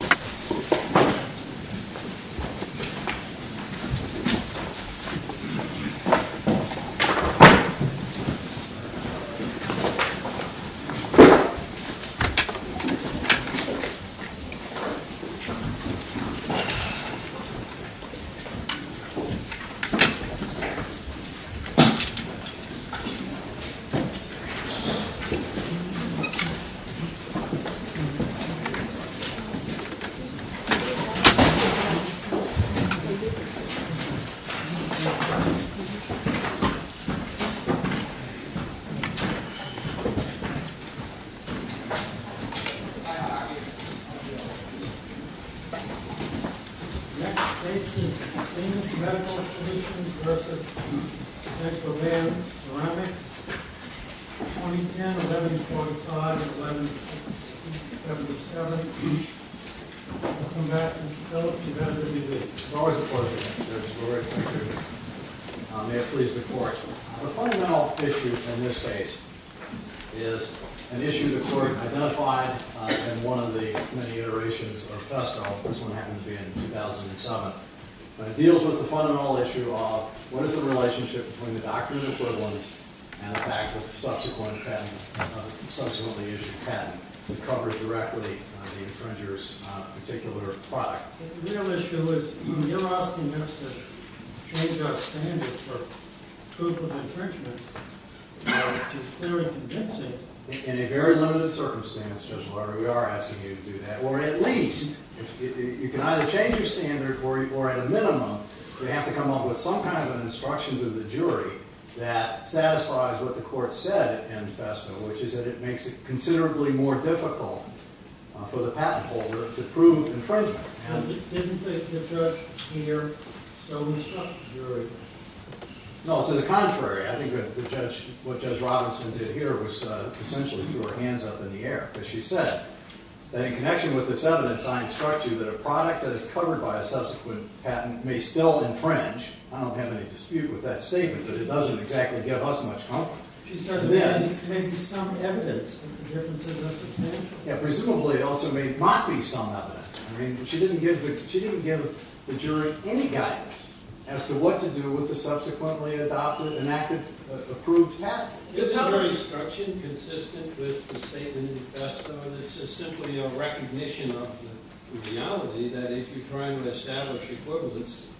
The next case is Stevens Medical Station versus San Jovian Ceramics, 2010, 11-45, 11-77. Welcome back, Mr. Phillips. You've had a busy day. It's always a pleasure, Mr. Phillips. We're very pleased to be here. May it please the Court. The fundamental issue in this case is an issue the Court identified in one of the many iterations of FESTO. This one happened to be in 2007. But it deals with the fundamental issue of what is the relationship between the doctrines and equivalents and the fact that the subsequently issued patent covers directly the infringer's particular product. The real issue is you're asking us to change our standard for proof of infringement, which is very convincing. In a very limited circumstance, Judge Lawyer, we are asking you to do that. Or at least, you can either change your standard or at a minimum, you have to come up with some kind of instructions of the jury that satisfies what the Court said in FESTO, which is that it makes it considerably more difficult for the patent holder to prove infringement. Didn't the judge here so instruct the jury? No, to the contrary. I think what Judge Robinson did here was essentially throw her hands up in the air. As she said, that in connection with this evidence, I instruct you that a product that is covered by a subsequent patent may still infringe. I don't have any dispute with that statement, but it doesn't exactly give us much confidence. She says there may be some evidence that the difference is unsubstantial. Presumably, it also may not be some evidence. I mean, she didn't give the jury any guidance as to what to do with the subsequently adopted, enacted, approved patent. Isn't her instruction consistent with the statement in FESTO? It's simply a recognition of the reality that if you're trying to establish equivalence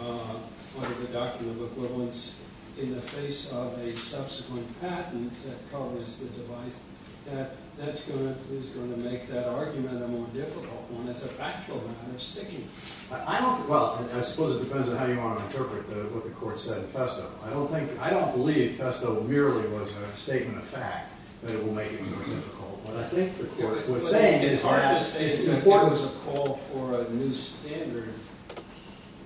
under the Doctrine of Equivalence in the face of a subsequent patent that covers the device, that that's going to make that argument a more difficult one. It's a factual matter sticking. Well, I suppose it depends on how you want to interpret what the Court said in FESTO. I don't believe FESTO merely was a statement of fact that it will make it more difficult. What I think the Court was saying is that it's important. It was a call for a new standard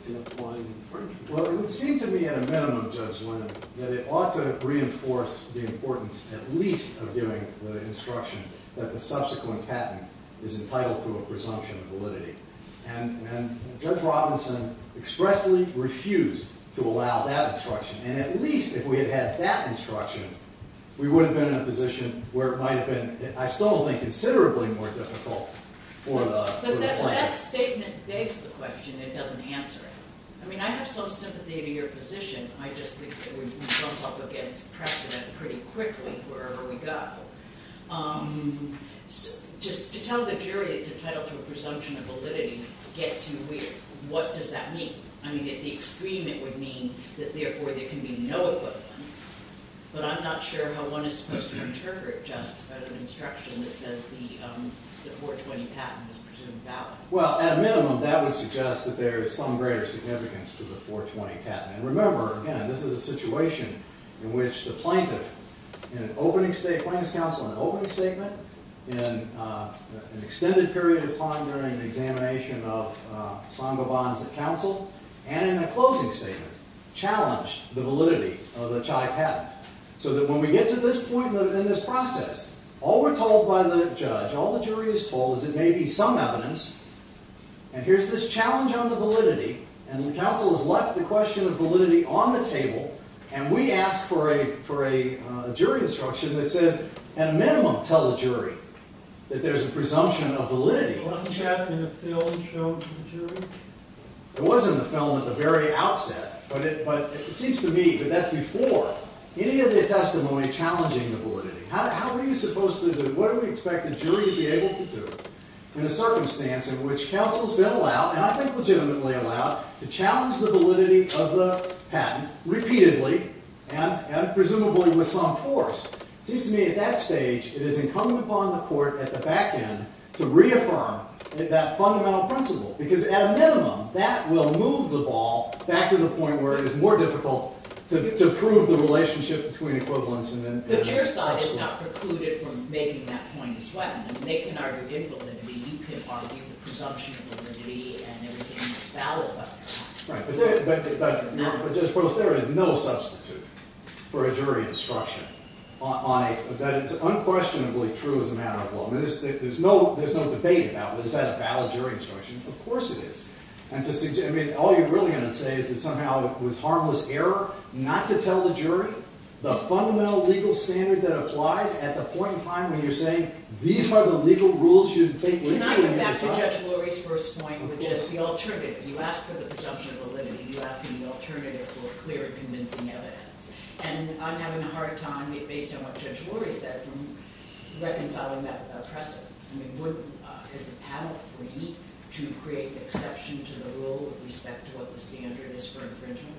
in applying infringement. Well, it would seem to me at a minimum, Judge Linnan, that it ought to reinforce the importance at least of giving the instruction that the subsequent patent is entitled to a presumption of validity. And Judge Robinson expressly refused to allow that instruction. And at least if we had had that instruction, we would have been in a position where it might have been, I still don't think, considerably more difficult for the client. But that statement begs the question. It doesn't answer it. I mean, I have some sympathy to your position. I just think that we bump up against precedent pretty quickly wherever we go. Just to tell the jury it's entitled to a presumption of validity gets you weird. What does that mean? I mean, at the extreme, it would mean that therefore there can be no equivalent. But I'm not sure how one is supposed to interpret just an instruction that says the 420 patent is presumed valid. Well, at a minimum, that would suggest that there is some greater significance to the 420 patent. And remember, again, this is a situation in which the plaintiff in an opening statement, plaintiff's counsel in an opening statement, in an extended period of time during the examination of Sangoban's counsel, and in a closing statement challenged the validity of the Chai patent. So that when we get to this point in this process, all we're told by the judge, all the jury is told is it may be some evidence. And here's this challenge on the validity. And the counsel has left the question of validity on the table. And we ask for a jury instruction that says, at a minimum, tell the jury that there's a presumption of validity. Wasn't that in the film shown to the jury? It was in the film at the very outset. But it seems to me that that's before any of the testimony challenging the validity. How are you supposed to do it? What do we expect the jury to be able to do in a circumstance in which counsel's been allowed, and I think legitimately allowed, to challenge the validity of the patent repeatedly, and presumably with some force? It seems to me at that stage, it is incumbent upon the court at the back end to reaffirm that fundamental principle. Because at a minimum, that will move the ball back to the point where it is more difficult to prove the relationship between equivalence and then something else. But it's not precluded from making that point as well. They can argue invalidity. You can argue the presumption of validity and everything that's valid about the patent. Right. But there is no substitute for a jury instruction. That it's unquestionably true as a matter of law. There's no debate about, is that a valid jury instruction? Of course it is. All you're really going to say is that somehow it was harmless error not to tell the jury the fundamental legal standard that applies at the point in time when you're saying, these are the legal rules you should take literally. Can I get back to Judge Lurie's first point, which is the alternative. You asked for the presumption of validity. You asked for the alternative for clear and convincing evidence. And I'm having a hard time, based on what Judge Lurie said, from reconciling that with oppressive. I mean, has the panel agreed to create the exception to the rule with respect to what the standard is for infringement?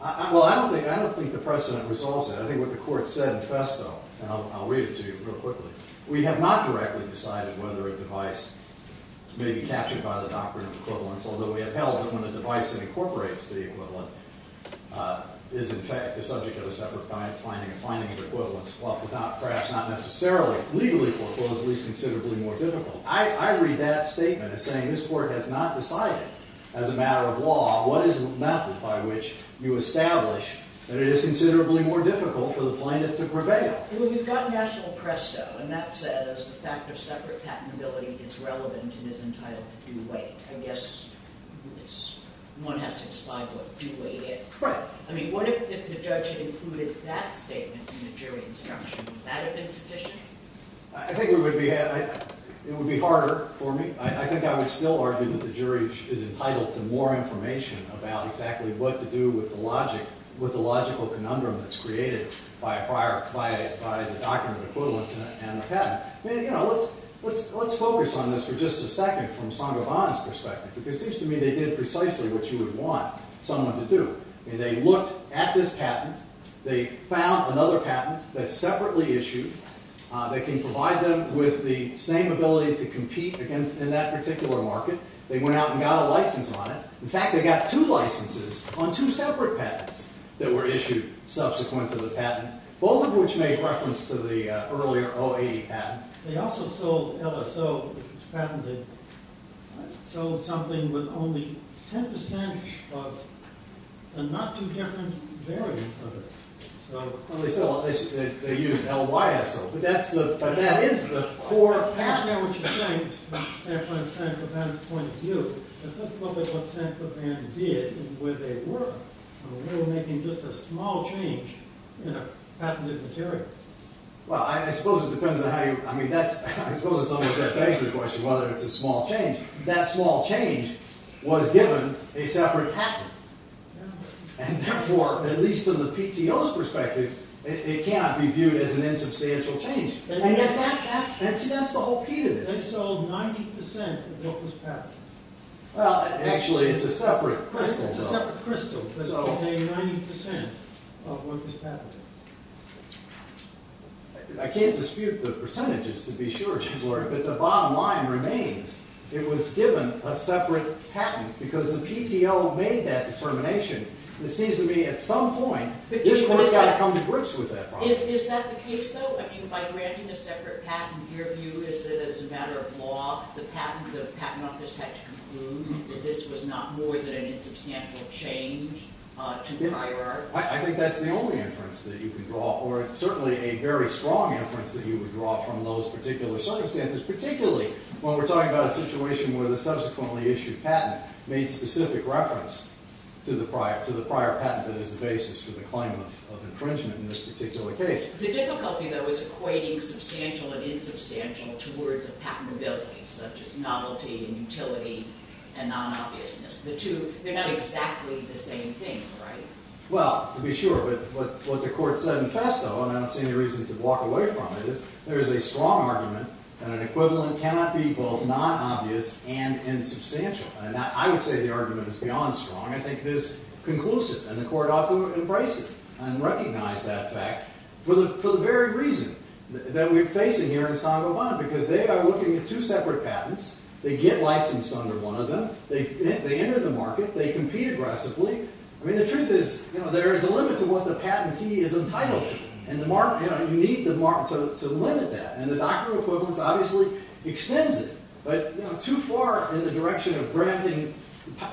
Well, I don't think the precedent resolves that. I think what the court said in festo, and I'll read it to you real quickly. We have not directly decided whether a device may be captured by the doctrine of equivalence, although we have held that when a device that incorporates the equivalent is in fact the subject of a separate finding, a finding of equivalence, perhaps not necessarily legally foreclosed, at least considerably more difficult. I read that statement as saying this court has not decided, as a matter of law, what is the method by which you establish that it is considerably more difficult for the plaintiff to prevail. Well, we've got national presto, and that says the fact of separate patentability is relevant and is entitled to due weight. I guess one has to decide what due weight is. Right. I mean, what if the judge included that statement in the jury instruction? Would that have been sufficient? I think it would be harder for me. I think I would still argue that the jury is entitled to more information about exactly what to do with the logic, with the logical conundrum that's created by the doctrine of equivalence and the patent. I mean, you know, let's focus on this for just a second from Sangoban's perspective, because it seems to me they did precisely what you would want someone to do. I mean, they looked at this patent. They found another patent that's separately issued that can provide them with the same ability to compete in that particular market. They went out and got a license on it. In fact, they got two licenses on two separate patents that were issued subsequent to the patent, both of which made reference to the earlier 080 patent. They also sold LSO, which was patented, sold something with only 10% of the not-too-different variant of it. Well, they used LYSO, but that is the core patent. That's not what you're saying from Sangoban's point of view. Let's look at what Sangoban did and where they were. They were making just a small change in a patented material. Well, I suppose it depends on how you – I mean, I suppose in some ways that begs the question whether it's a small change. That small change was given a separate patent. And therefore, at least from the PTO's perspective, it cannot be viewed as an insubstantial change. And see, that's the whole key to this. They sold 90% of what was patented. Well, actually, it's a separate crystal, though. They sold 90% of what was patented. I can't dispute the percentages, to be sure, but the bottom line remains. It was given a separate patent because the PTO made that determination. It seems to me at some point, this court's got to come to grips with that problem. Is that the case, though? I mean, by granting a separate patent, your view is that as a matter of law, the patent office had to conclude that this was not more than an insubstantial change? I think that's the only inference that you can draw, or certainly a very strong inference that you would draw from those particular circumstances, particularly when we're talking about a situation where the subsequently issued patent made specific reference to the prior patent that is the basis for the claim of infringement in this particular case. The difficulty, though, is equating substantial and insubstantial to words of patentability, such as novelty and utility and non-obviousness. The two, they're not exactly the same thing, right? Well, to be sure, but what the court said in festo, and I don't see any reason to walk away from it, is there is a strong argument that an equivalent cannot be both non-obvious and insubstantial. And I would say the argument is beyond strong. I think it is conclusive, and the court ought to embrace it and recognize that fact for the very reason that we're facing here in San Goban, because they are looking at two separate patents. They get licensed under one of them. They enter the market. They compete aggressively. I mean, the truth is there is a limit to what the patentee is entitled to. And you need the market to limit that. And the doctrine of equivalence obviously extends it. But too far in the direction of granting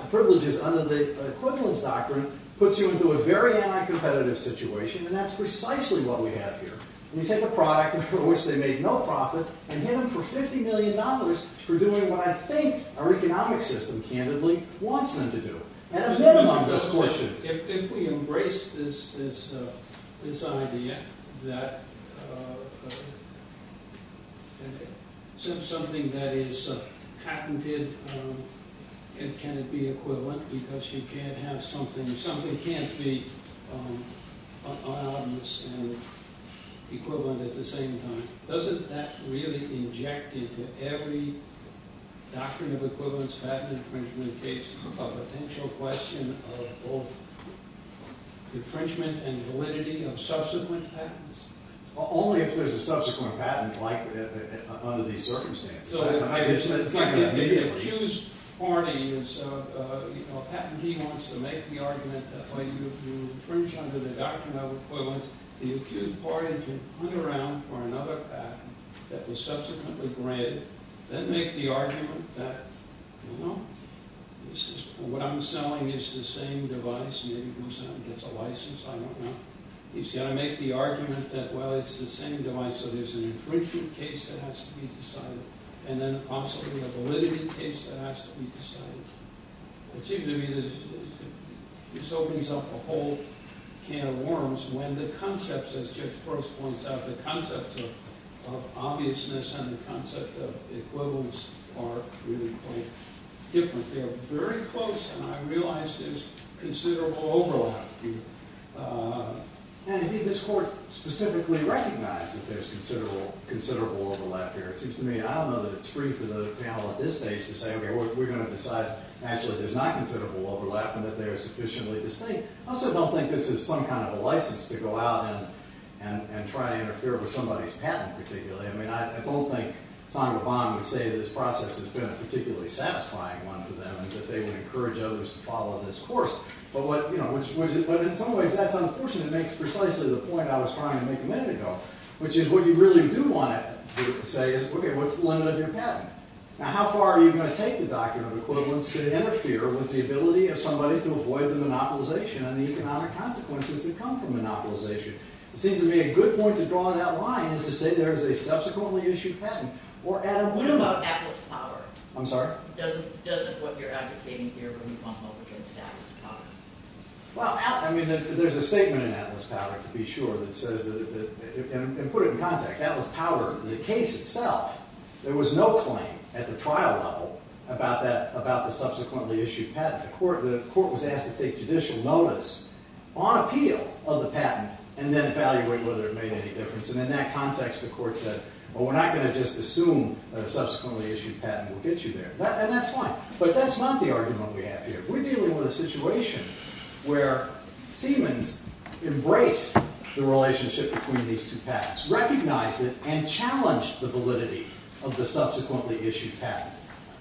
privileges under the equivalence doctrine puts you into a very anti-competitive situation, and that's precisely what we have here. We take a product for which they make no profit and give them for $50 million for doing what I think our economic system, candidly, wants them to do. If we embrace this idea that something that is patented, can it be equivalent because you can't have something, something can't be unobvious and equivalent at the same time, doesn't that really inject into every doctrine of equivalence patent infringement case a potential question of both infringement and validity of subsequent patents? Only if there's a subsequent patent under these circumstances. The accused party is, you know, a patentee wants to make the argument that you infringe under the doctrine of equivalence. The accused party can hunt around for another patent that was subsequently granted, then make the argument that, you know, what I'm selling is the same device. Maybe it goes out and gets a license, I don't know. He's going to make the argument that, well, it's the same device, so there's an infringement case that has to be decided, and then possibly a validity case that has to be decided. It seems to me this opens up a whole can of worms when the concepts, as Judge Gross points out, the concepts of obviousness and the concept of equivalence are really quite different. They're very close, and I realize there's considerable overlap. And did this court specifically recognize that there's considerable overlap here? It seems to me, I don't know that it's free for the panel at this stage to say, okay, we're going to decide actually there's not considerable overlap and that they're sufficiently distinct. I also don't think this is some kind of a license to go out and try to interfere with somebody's patent particularly. I mean, I don't think Sandra Bond would say that this process has been a particularly satisfying one for them and that they would encourage others to follow this course. But in some ways that's unfortunate. It makes precisely the point I was trying to make a minute ago, which is what you really do want to say is, okay, what's the limit of your patent? Now, how far are you going to take the doctrine of equivalence to interfere with the ability of somebody to avoid the monopolization and the economic consequences that come from monopolization? It seems to me a good point to draw that line is to say there is a subsequently issued patent. What about Atlas Power? I'm sorry? Doesn't what you're advocating here really bump up against Atlas Power? Well, I mean, there's a statement in Atlas Power to be sure that says, and put it in context, Atlas Power, the case itself, there was no claim at the trial level about the subsequently issued patent. The court was asked to take judicial notice on appeal of the patent and then evaluate whether it made any difference. And in that context, the court said, well, we're not going to just assume that a subsequently issued patent will get you there. And that's fine. But that's not the argument we have here. We're dealing with a situation where Siemens embraced the relationship between these two patents, recognized it, and challenged the validity of the subsequently issued patent.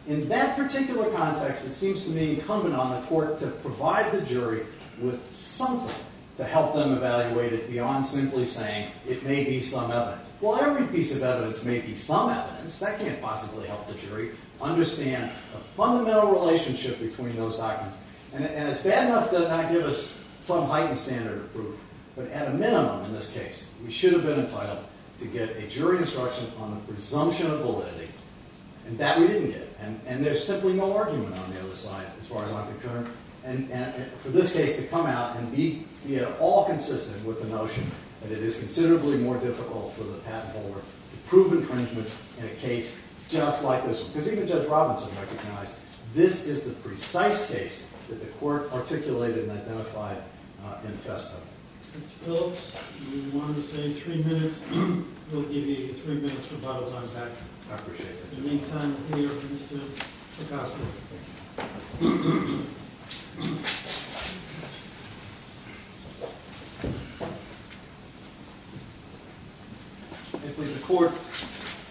In that particular context, it seems to me incumbent on the court to provide the jury with something to help them evaluate it beyond simply saying it may be some evidence. Well, every piece of evidence may be some evidence. That can't possibly help the jury understand the fundamental relationship between those documents. And it's bad enough to not give us some heightened standard of proof. But at a minimum in this case, we should have been entitled to get a jury instruction on the presumption of validity. And that we didn't get. And there's simply no argument on the other side, as far as I'm concerned. And for this case to come out and be at all consistent with the notion that it is considerably more difficult for the patent holder to prove infringement in a case just like this one. Because even Judge Robinson recognized this is the precise case that the court articulated and identified in Festo. Mr. Phillips, you wanted to say three minutes. We'll give you three minutes to apologize back. I appreciate that. In the meantime, we'll hear from Mr. Picasso. If we support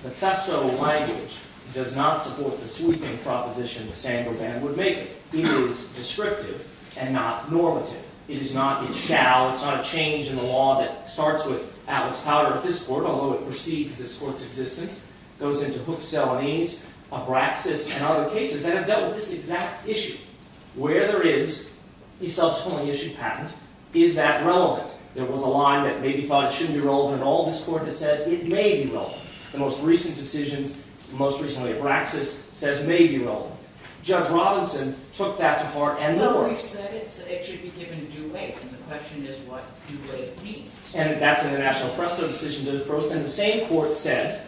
the Festo language, it does not support the sweeping proposition the Sandberg ban would make. It is descriptive and not normative. It is not. It shall. It's not a change in the law that starts with Atlas Powder at this court, although it precedes this court's existence. It goes into Hooks, Salonese, Abraxas, and other cases that have dealt with this exact issue. Where there is a subsequently issued patent, is that relevant? There was a line that maybe thought it shouldn't be relevant at all. This court has said it may be relevant. The most recent decisions, most recently Abraxas, says may be relevant. Judge Robinson took that to heart. No, he said it should be given due weight. And the question is, what do weight mean? And that's when the National Press Substitution did a post. And the same court said,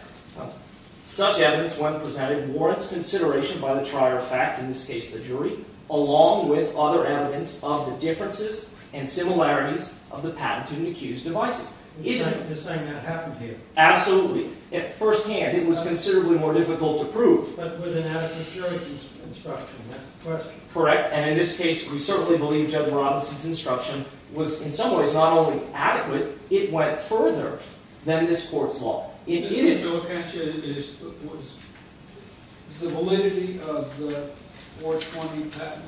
such evidence when presented warrants consideration by the trier of fact, in this case the jury, along with other evidence of the differences and similarities of the patented and accused devices. Is it the same that happened here? Absolutely. At first hand, it was considerably more difficult to prove. But with an adequate jury deconstruction, that's the question. Correct. And in this case, we certainly believe Judge Robinson's instruction was in some ways not only adequate, it went further than this court's law. It is. Is the validity of the 420 patent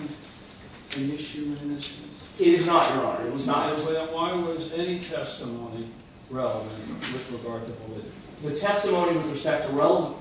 an issue in this case? It is not, Your Honor. It was not. Why was any testimony relevant with regard to validity? The testimony with respect to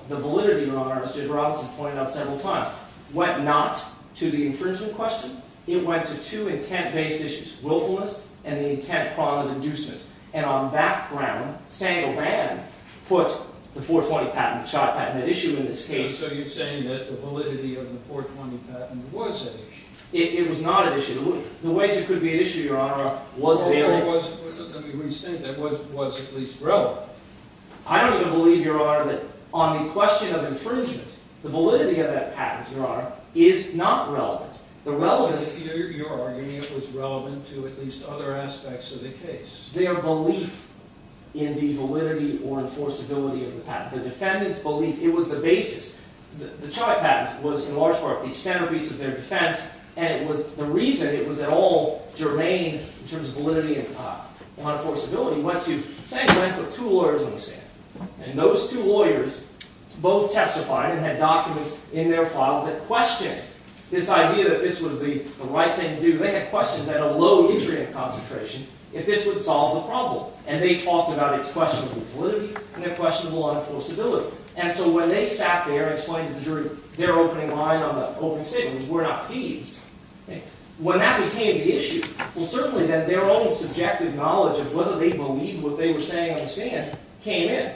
the validity, Your Honor, as Judge Robinson pointed out several times, went not to the infringement question. It went to two intent-based issues, willfulness and the intent prong of inducement. And on that ground, Sandovan put the 420 patent, the CHOT patent, at issue in this case. So you're saying that the validity of the 420 patent was at issue. It was not at issue. The ways it could be at issue, Your Honor, was that it was at least relevant. I don't even believe, Your Honor, that on the question of infringement, the validity of that patent, Your Honor, is not relevant. The relevance, you're arguing, was relevant to at least other aspects of the case. Their belief in the validity or enforceability of the patent, the defendant's belief, it was the basis. The CHOT patent was, in large part, the centerpiece of their defense. And the reason it was at all germane in terms of validity and enforceability went to Sandovan put two lawyers on the stand. And those two lawyers both testified and had documents in their files that questioned this idea that this was the right thing to do. They had questions at a low Israel concentration if this would solve the problem. And they talked about its questionable validity and questionable enforceability. And so when they sat there and explained to the jury their opening line on the opening statement, it was we're not thieves. When that became the issue, well, certainly then their own subjective knowledge of whether they believed what they were saying on the stand came in.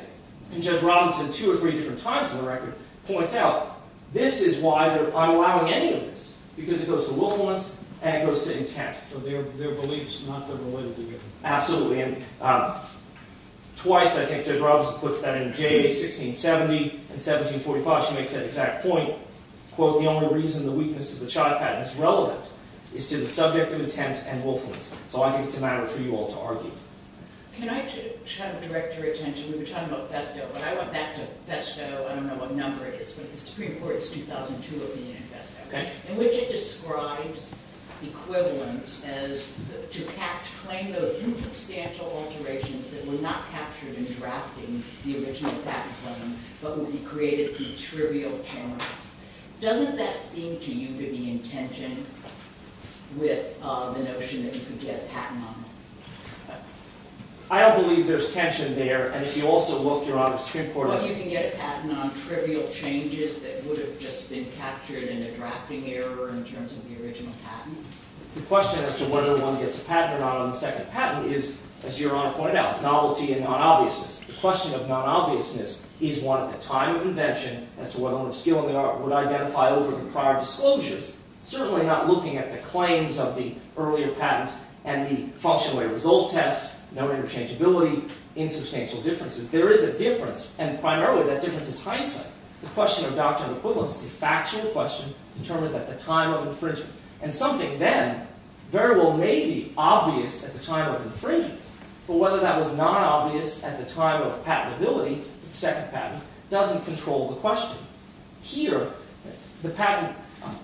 And Judge Robinson, two or three different times on the record, points out, this is why I'm allowing any of this, because it goes to willfulness and it goes to intent. So their beliefs, not their validity. Absolutely. And twice, I think, Judge Robinson puts that in Jay, 1670 and 1745. She makes that exact point. Quote, the only reason the weakness of the CHOT patent is relevant is to the subject of intent and willfulness. So I think it's a matter for you all to argue. Can I try to direct your attention? We were talking about FESTO. When I went back to FESTO, I don't know what number it is, but the Supreme Court's 2002 opinion in FESTO, in which it describes equivalence as to claim those insubstantial alterations that were not captured in drafting the original patent claim, but would be created through trivial challenge. Doesn't that seem to you to be in tension with the notion that you could get a patent on them? I don't believe there's tension there. And if you also look, Your Honor, Supreme Court opinion. But you can get a patent on trivial changes that would have just been captured in a drafting error in terms of the original patent? The question as to whether one gets a patent or not on the second patent is, as Your Honor pointed out, novelty and non-obviousness. The question of non-obviousness is one at the time of invention as to whether one of skill in the art would identify over the prior disclosures. Certainly not looking at the claims of the earlier patent and the function away result test, no interchangeability, insubstantial differences. There is a difference. And primarily, that difference is hindsight. The question of doctrinal equivalence is a factual question determined at the time of infringement. And something then very well may be obvious at the time of infringement. But whether that was non-obvious at the time of patentability, the second patent, doesn't control the question. Here, the patent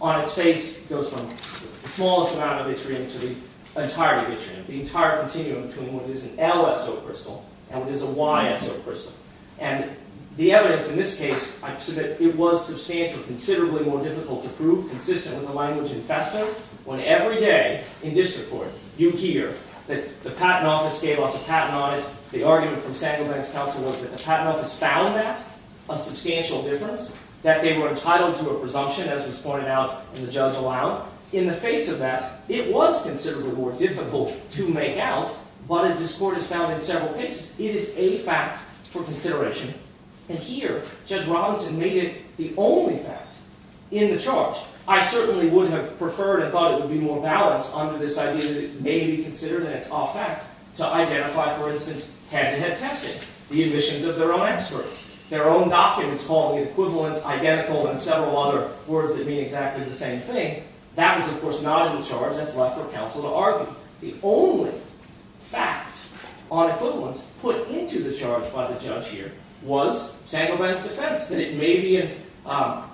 on its face goes from the smallest amount of vitriol to the entirety of vitriol, the entire continuum between what is an LSO crystal and what is a YSO crystal. And the evidence in this case, I've said that it was substantial, considerably more difficult to prove, consistent with the language in Festa, when every day in district court, you hear that the Patent Office gave us a patent on it. The argument from San Gilbert's counsel was that the Patent Office found that a substantial difference. That they were entitled to a presumption, as was pointed out in the judge aloud. In the face of that, it was considerably more difficult to make out. But as this court has found in several cases, it is a fact for consideration. And here, Judge Robinson made it the only fact in the charge. I certainly would have preferred and thought it would be more balanced under this idea that it may be considered, and it's off fact, to identify, for instance, head-to-head testing, the admissions of their own experts, their own documents called the equivalent, identical, and several other words that mean exactly the same thing. That was, of course, not in the charge. That's left for counsel to argue. The only fact on equivalence put into the charge by the judge here was San Gilbert's defense, that it may be an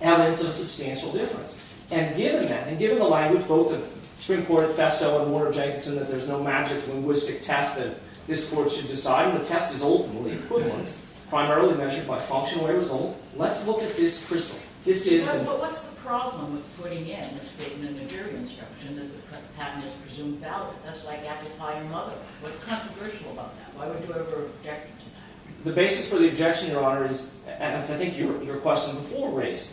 evidence of substantial difference. And given that, and given the language, both of Supreme Court of Festa and Warner-Jenkinson, that there's no magic linguistic test that this court should decide, the test is ultimately equivalence, primarily measured by functional result. Let's look at this crystal. This is another. But what's the problem with putting in a statement of jury instruction that the patent is presumed valid? That's like amplifying a mother. What's controversial about that? Why would you ever object to that? The basis for the objection, Your Honor, is, as I think your question before raised,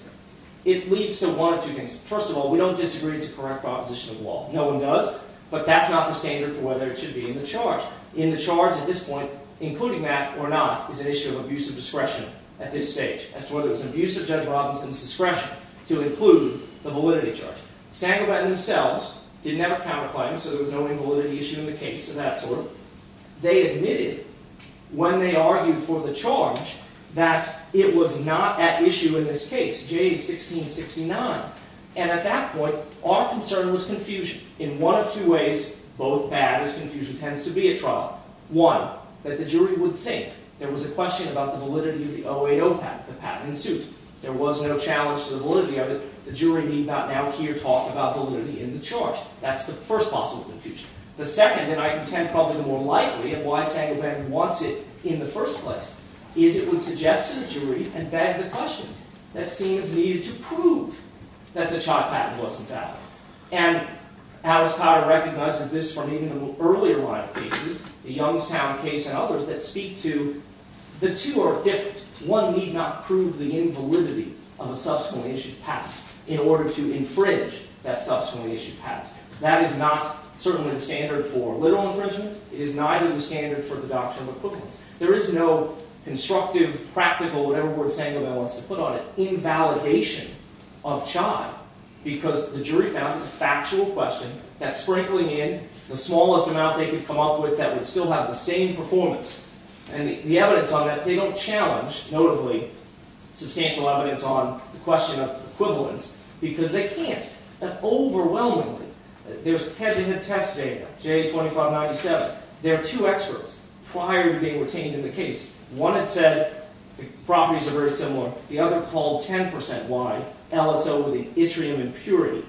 it leads to one of two things. First of all, we don't disagree it's a correct proposition of law. No one does. But that's not the standard for whether it should be in the charge. In the charge at this point, including that or not is an issue of abusive discretion at this stage as to whether it's an abuse of Judge Robinson's discretion to include the validity charge. Sandberg and themselves didn't have a counterclaim, so there was no invalidity issue in the case of that sort. They admitted, when they argued for the charge, that it was not at issue in this case, J1669. And at that point, our concern was confusion. In one of two ways, both bad, as confusion tends to be at trial. One, that the jury would think there was a question about the validity of the 080 patent, the patent in suit. There was no challenge to the validity of it. The jury need not now hear talk about validity in the charge. That's the first possible confusion. The second, and I contend probably the more likely, and why Sandberg wants it in the first place, is it would suggest to the jury and beg the questions that seems needed to prove that the patent wasn't valid. And as Potter recognizes this from even the earlier line of cases, the Youngstown case and others that speak to, the two are different. One need not prove the invalidity of a subsequently issued patent in order to infringe that subsequently issued patent. That is not certainly the standard for literal infringement. It is neither the standard for the doctrine of acquittance. There is no constructive, practical, whatever word Sandberg wants to put on it, invalidation of child, because the jury found it's a factual question. That's sprinkling in the smallest amount they could come up with that would still have the same performance. And the evidence on that, they don't challenge, notably, substantial evidence on the question of equivalence, because they can't. And overwhelmingly, there's head-to-head test data, J2597. There are two experts prior to being retained in the case. One had said the properties are very similar. The other called 10% why. Ellis over the yttrium impurity.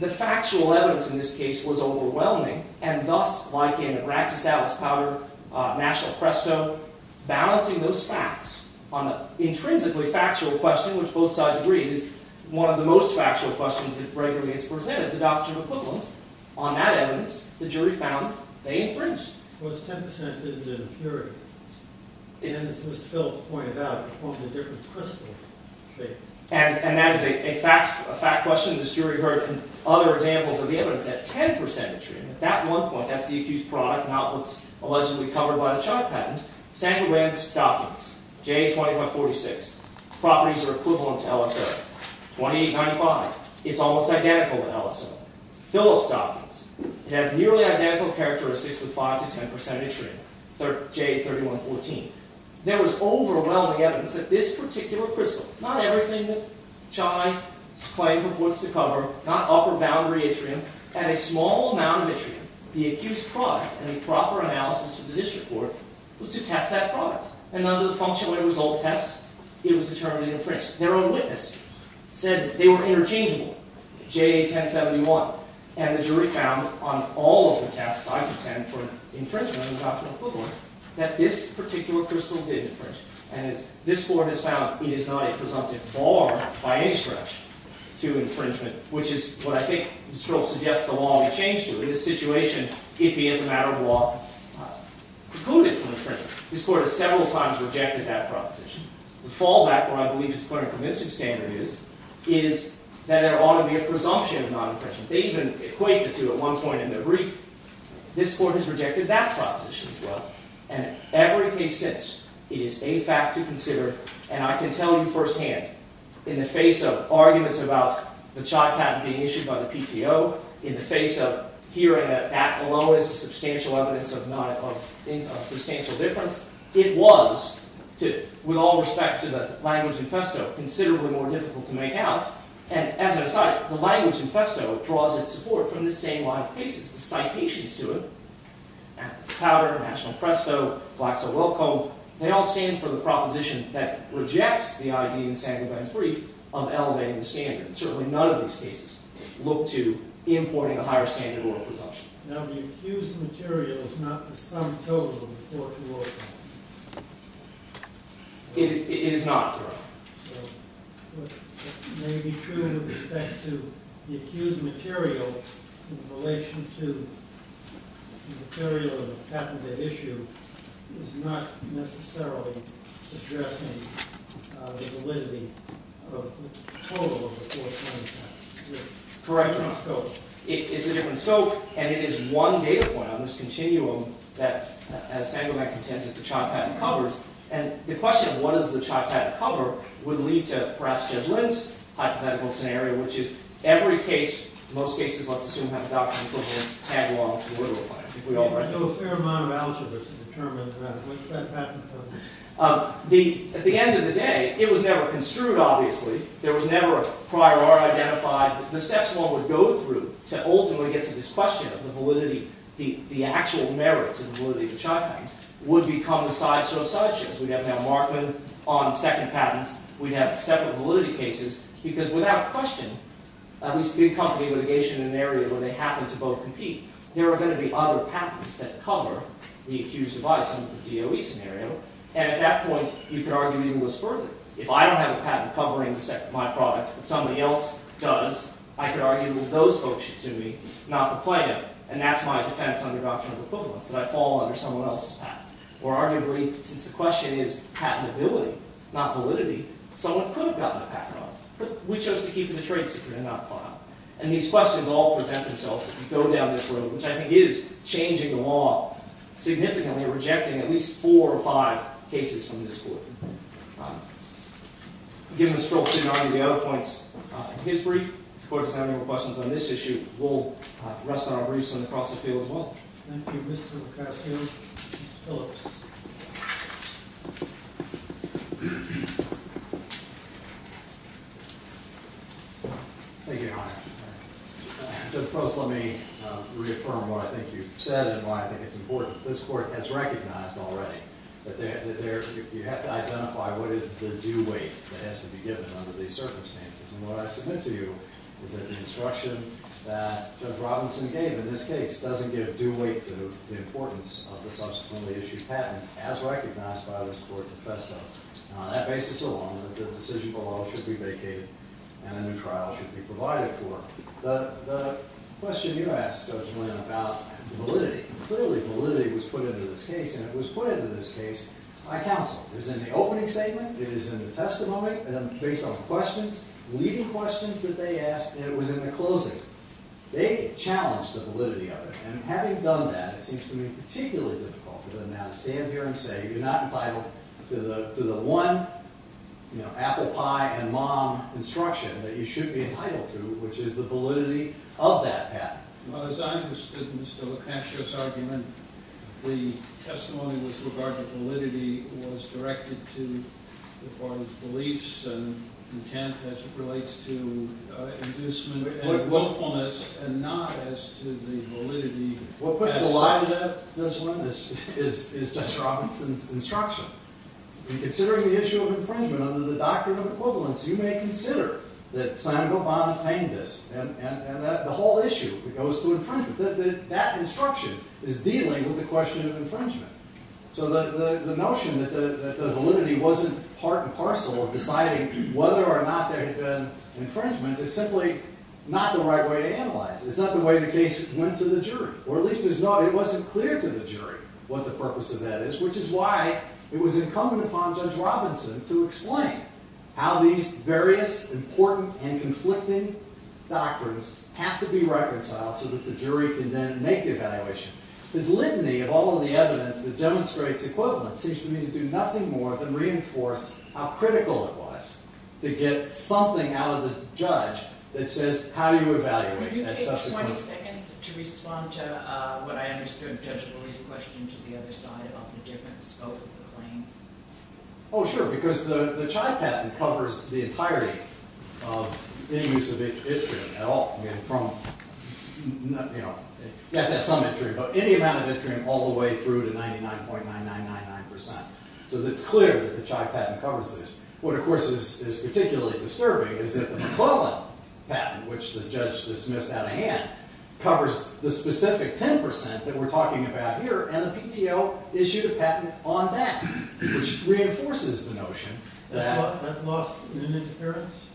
The factual evidence in this case was overwhelming. And thus, like in the Bractus-Ellis-Powder National Cresto, balancing those facts on the intrinsically factual question, which both sides agreed is one of the most factual questions that regularly is presented, the doctrine of equivalence. On that evidence, the jury found they infringed. It was 10% isn't impurity. And as Mr. Phillips pointed out, it forms a different crystal shape. And that is a fact question. The jury heard in other examples of the evidence that 10% yttrium. At that one point, that's the accused product and how it's allegedly covered by the child patent. Sandy Wain's doctrines, J2546, properties are equivalent to LSO. 2895, it's almost identical in LSO. Phillips' doctrines, it has nearly identical characteristics with 5% to 10% yttrium, J3114. There was overwhelming evidence that this particular crystal, not everything that Chai's claim purports to cover, not upper boundary yttrium, and a small amount of yttrium, the accused product and the proper analysis of the district court, was to test that product. And under the functional end result test, it was determined infringed. Their own witness said they were interchangeable, J1071. And the jury found on all of the tests I contend for infringement of the doctrinal equivalence that this particular crystal did infringe. And this court has found it is not a presumptive bar by any stretch to infringement, which is what I think suggests the law may change to. In this situation, it may as a matter of law preclude it from infringement. This court has several times rejected that proposition. The fallback, where I believe it's quite a convincing standard is, is that there ought to be a presumption of non-infringement. They even equate the two at one point in their brief. This court has rejected that proposition as well. And every case since, it is a fact to consider. And I can tell you firsthand, in the face of arguments about the CHOT patent being issued by the PTO, in the face of hearing that that alone is a substantial evidence of substantial difference, it was, with all respect to the language in Festo, considerably more difficult to make out. And as an aside, the language in Festo draws its support from this same line of cases. The citations to it, Atlas Powder, National Presto, Blacks are Welcome, they all stand for the proposition that rejects the ID in Sandler-Benz brief of elevating the standard. Certainly none of these cases look to importing a higher standard or a presumption. Now, the accused material is not the sum total of the court's work. It is not, correct. It may be true with respect to the accused material in relation to the material of the patent at issue is not necessarily addressing the validity of the total of the court's work. Correct. It's not scope. It's a different scope. And it is one data point on this continuum that, as Samuel Macintyre says, the CHOT patent covers. And the question of what does the CHOT patent cover would lead to, perhaps, Judge Lind's hypothetical scenario, which is every case, most cases, let's assume have a doctrine equivalent tag law to a literal claim. We all read that. There's no fair amount of algebra to determine what that patent covers. At the end of the day, it was never construed, obviously. There was never a prior art identified. The steps one would go through to ultimately get to this question of the validity, the actual merits of the validity of the CHOT patent would become the sideshow of sideshows. We'd have now Markman on second patents. We'd have separate validity cases. Because without question, at least a big company litigation in an area where they happen to both compete, there are going to be other patents that cover the accused of bias under the DOE scenario. And at that point, you could argue even less further. If I don't have a patent covering my product, but somebody else does, I could argue that those folks should sue me, not the plaintiff. And that's my defense under doctrinal equivalence, that I fall under someone else's patent. Or arguably, since the question is patentability, not validity, someone could have gotten a patent on it. But we chose to keep the trade secret and not file. And these questions all present themselves if you go down this road, which I think is changing the law significantly, or rejecting at least four or five cases from this court. Given the scope to argue the other points in his brief, if the court doesn't have any more questions on this issue, we'll rest our briefs and cross the field as well. Thank you, Mr. McCaskill. Mr. Phillips. Thank you, Your Honor. Judge Post, let me reaffirm what I think you've said and why I think it's important. This court has recognized already that you have to identify what is the due weight that has to be given under these circumstances. And what I submit to you is that the instruction that Judge Robinson gave in this case doesn't give due weight to the importance of the subsequently-issued patent, as recognized by this court defesto. On that basis alone, the decision below should be vacated and a new trial should be provided for. The question you asked, Judge Lynn, about validity. Clearly, validity was put into this case. And it was put into this case by counsel. It was in the opening statement. It is in the testimony. And based on questions, leading questions that they asked, it was in the closing. They challenged the validity of it. And having done that, it seems to me particularly difficult for them now to stand here and say, you're not entitled to the one apple pie and mom instruction that you should be entitled to, which is the validity of that patent. Well, as I understood Mr. McCaskill's argument, the testimony with regard to validity was directed to the former's beliefs and intent as it relates to inducement and willfulness and not as to the validity. What puts the lie to that, Judge Lynn, is Judge Robinson's instruction. In considering the issue of infringement under the Doctrine of Equivalence, you may consider that Senator Obama claimed this. And the whole issue goes to infringement. That instruction is dealing with the question of infringement. So the notion that the validity wasn't part and parcel of deciding whether or not there had been infringement is simply not the right way to analyze it. It's not the way the case went to the jury. Or at least it wasn't clear to the jury what the purpose of that is, which is why it was incumbent upon Judge Robinson to explain how these various important and conflicting doctrines have to be reconciled so that the jury can then make the evaluation. His litany of all of the evidence that demonstrates equivalence seems to me to do nothing more than reinforce how critical it was to get something out of the judge that says how you evaluate. Could you take 20 seconds to respond to what I understood Judge Bulley's question to the other side of the different scope of the claims? Oh, sure. Because the Chai Patent covers the entirety of any use of it at all. You have to have some entry, but any amount of entry all the way through to 99.9999%. So it's clear that the Chai Patent covers this. What, of course, is particularly disturbing is that the McClellan Patent, which the judge dismissed out of hand, covers the specific 10% that we're talking about here. And the PTO issued a patent on that, which reinforces the notion that. That lost in interference?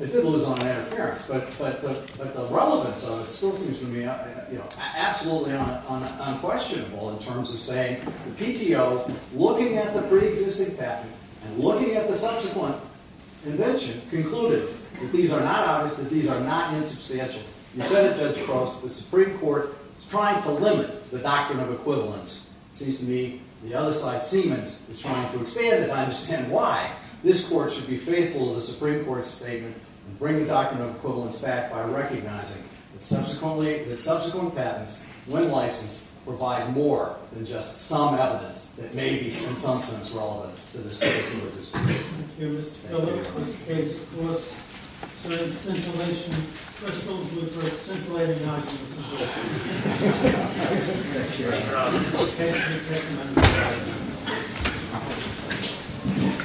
It did lose on interference. But the relevance of it still seems to me absolutely unquestionable in terms of saying the PTO, looking at the pre-existing patent and looking at the subsequent invention, concluded that these are not obvious, that these are not insubstantial. You said it, Judge Cross, that the Supreme Court is trying to limit the doctrine of equivalence. It seems to me the other side, Siemens, is trying to expand it. I understand why this court should be faithful to the Supreme Court's statement and bring the doctrine of equivalence back by recognizing that subsequently the subsequent patents, when licensed, provide more than just some evidence that may be, in some sense, relevant to the case you were discussing. Thank you, Mr. Phillips. This case, of course, says scintillation crystals which are scintillating documents. Thank you. Thank you, Your Honor.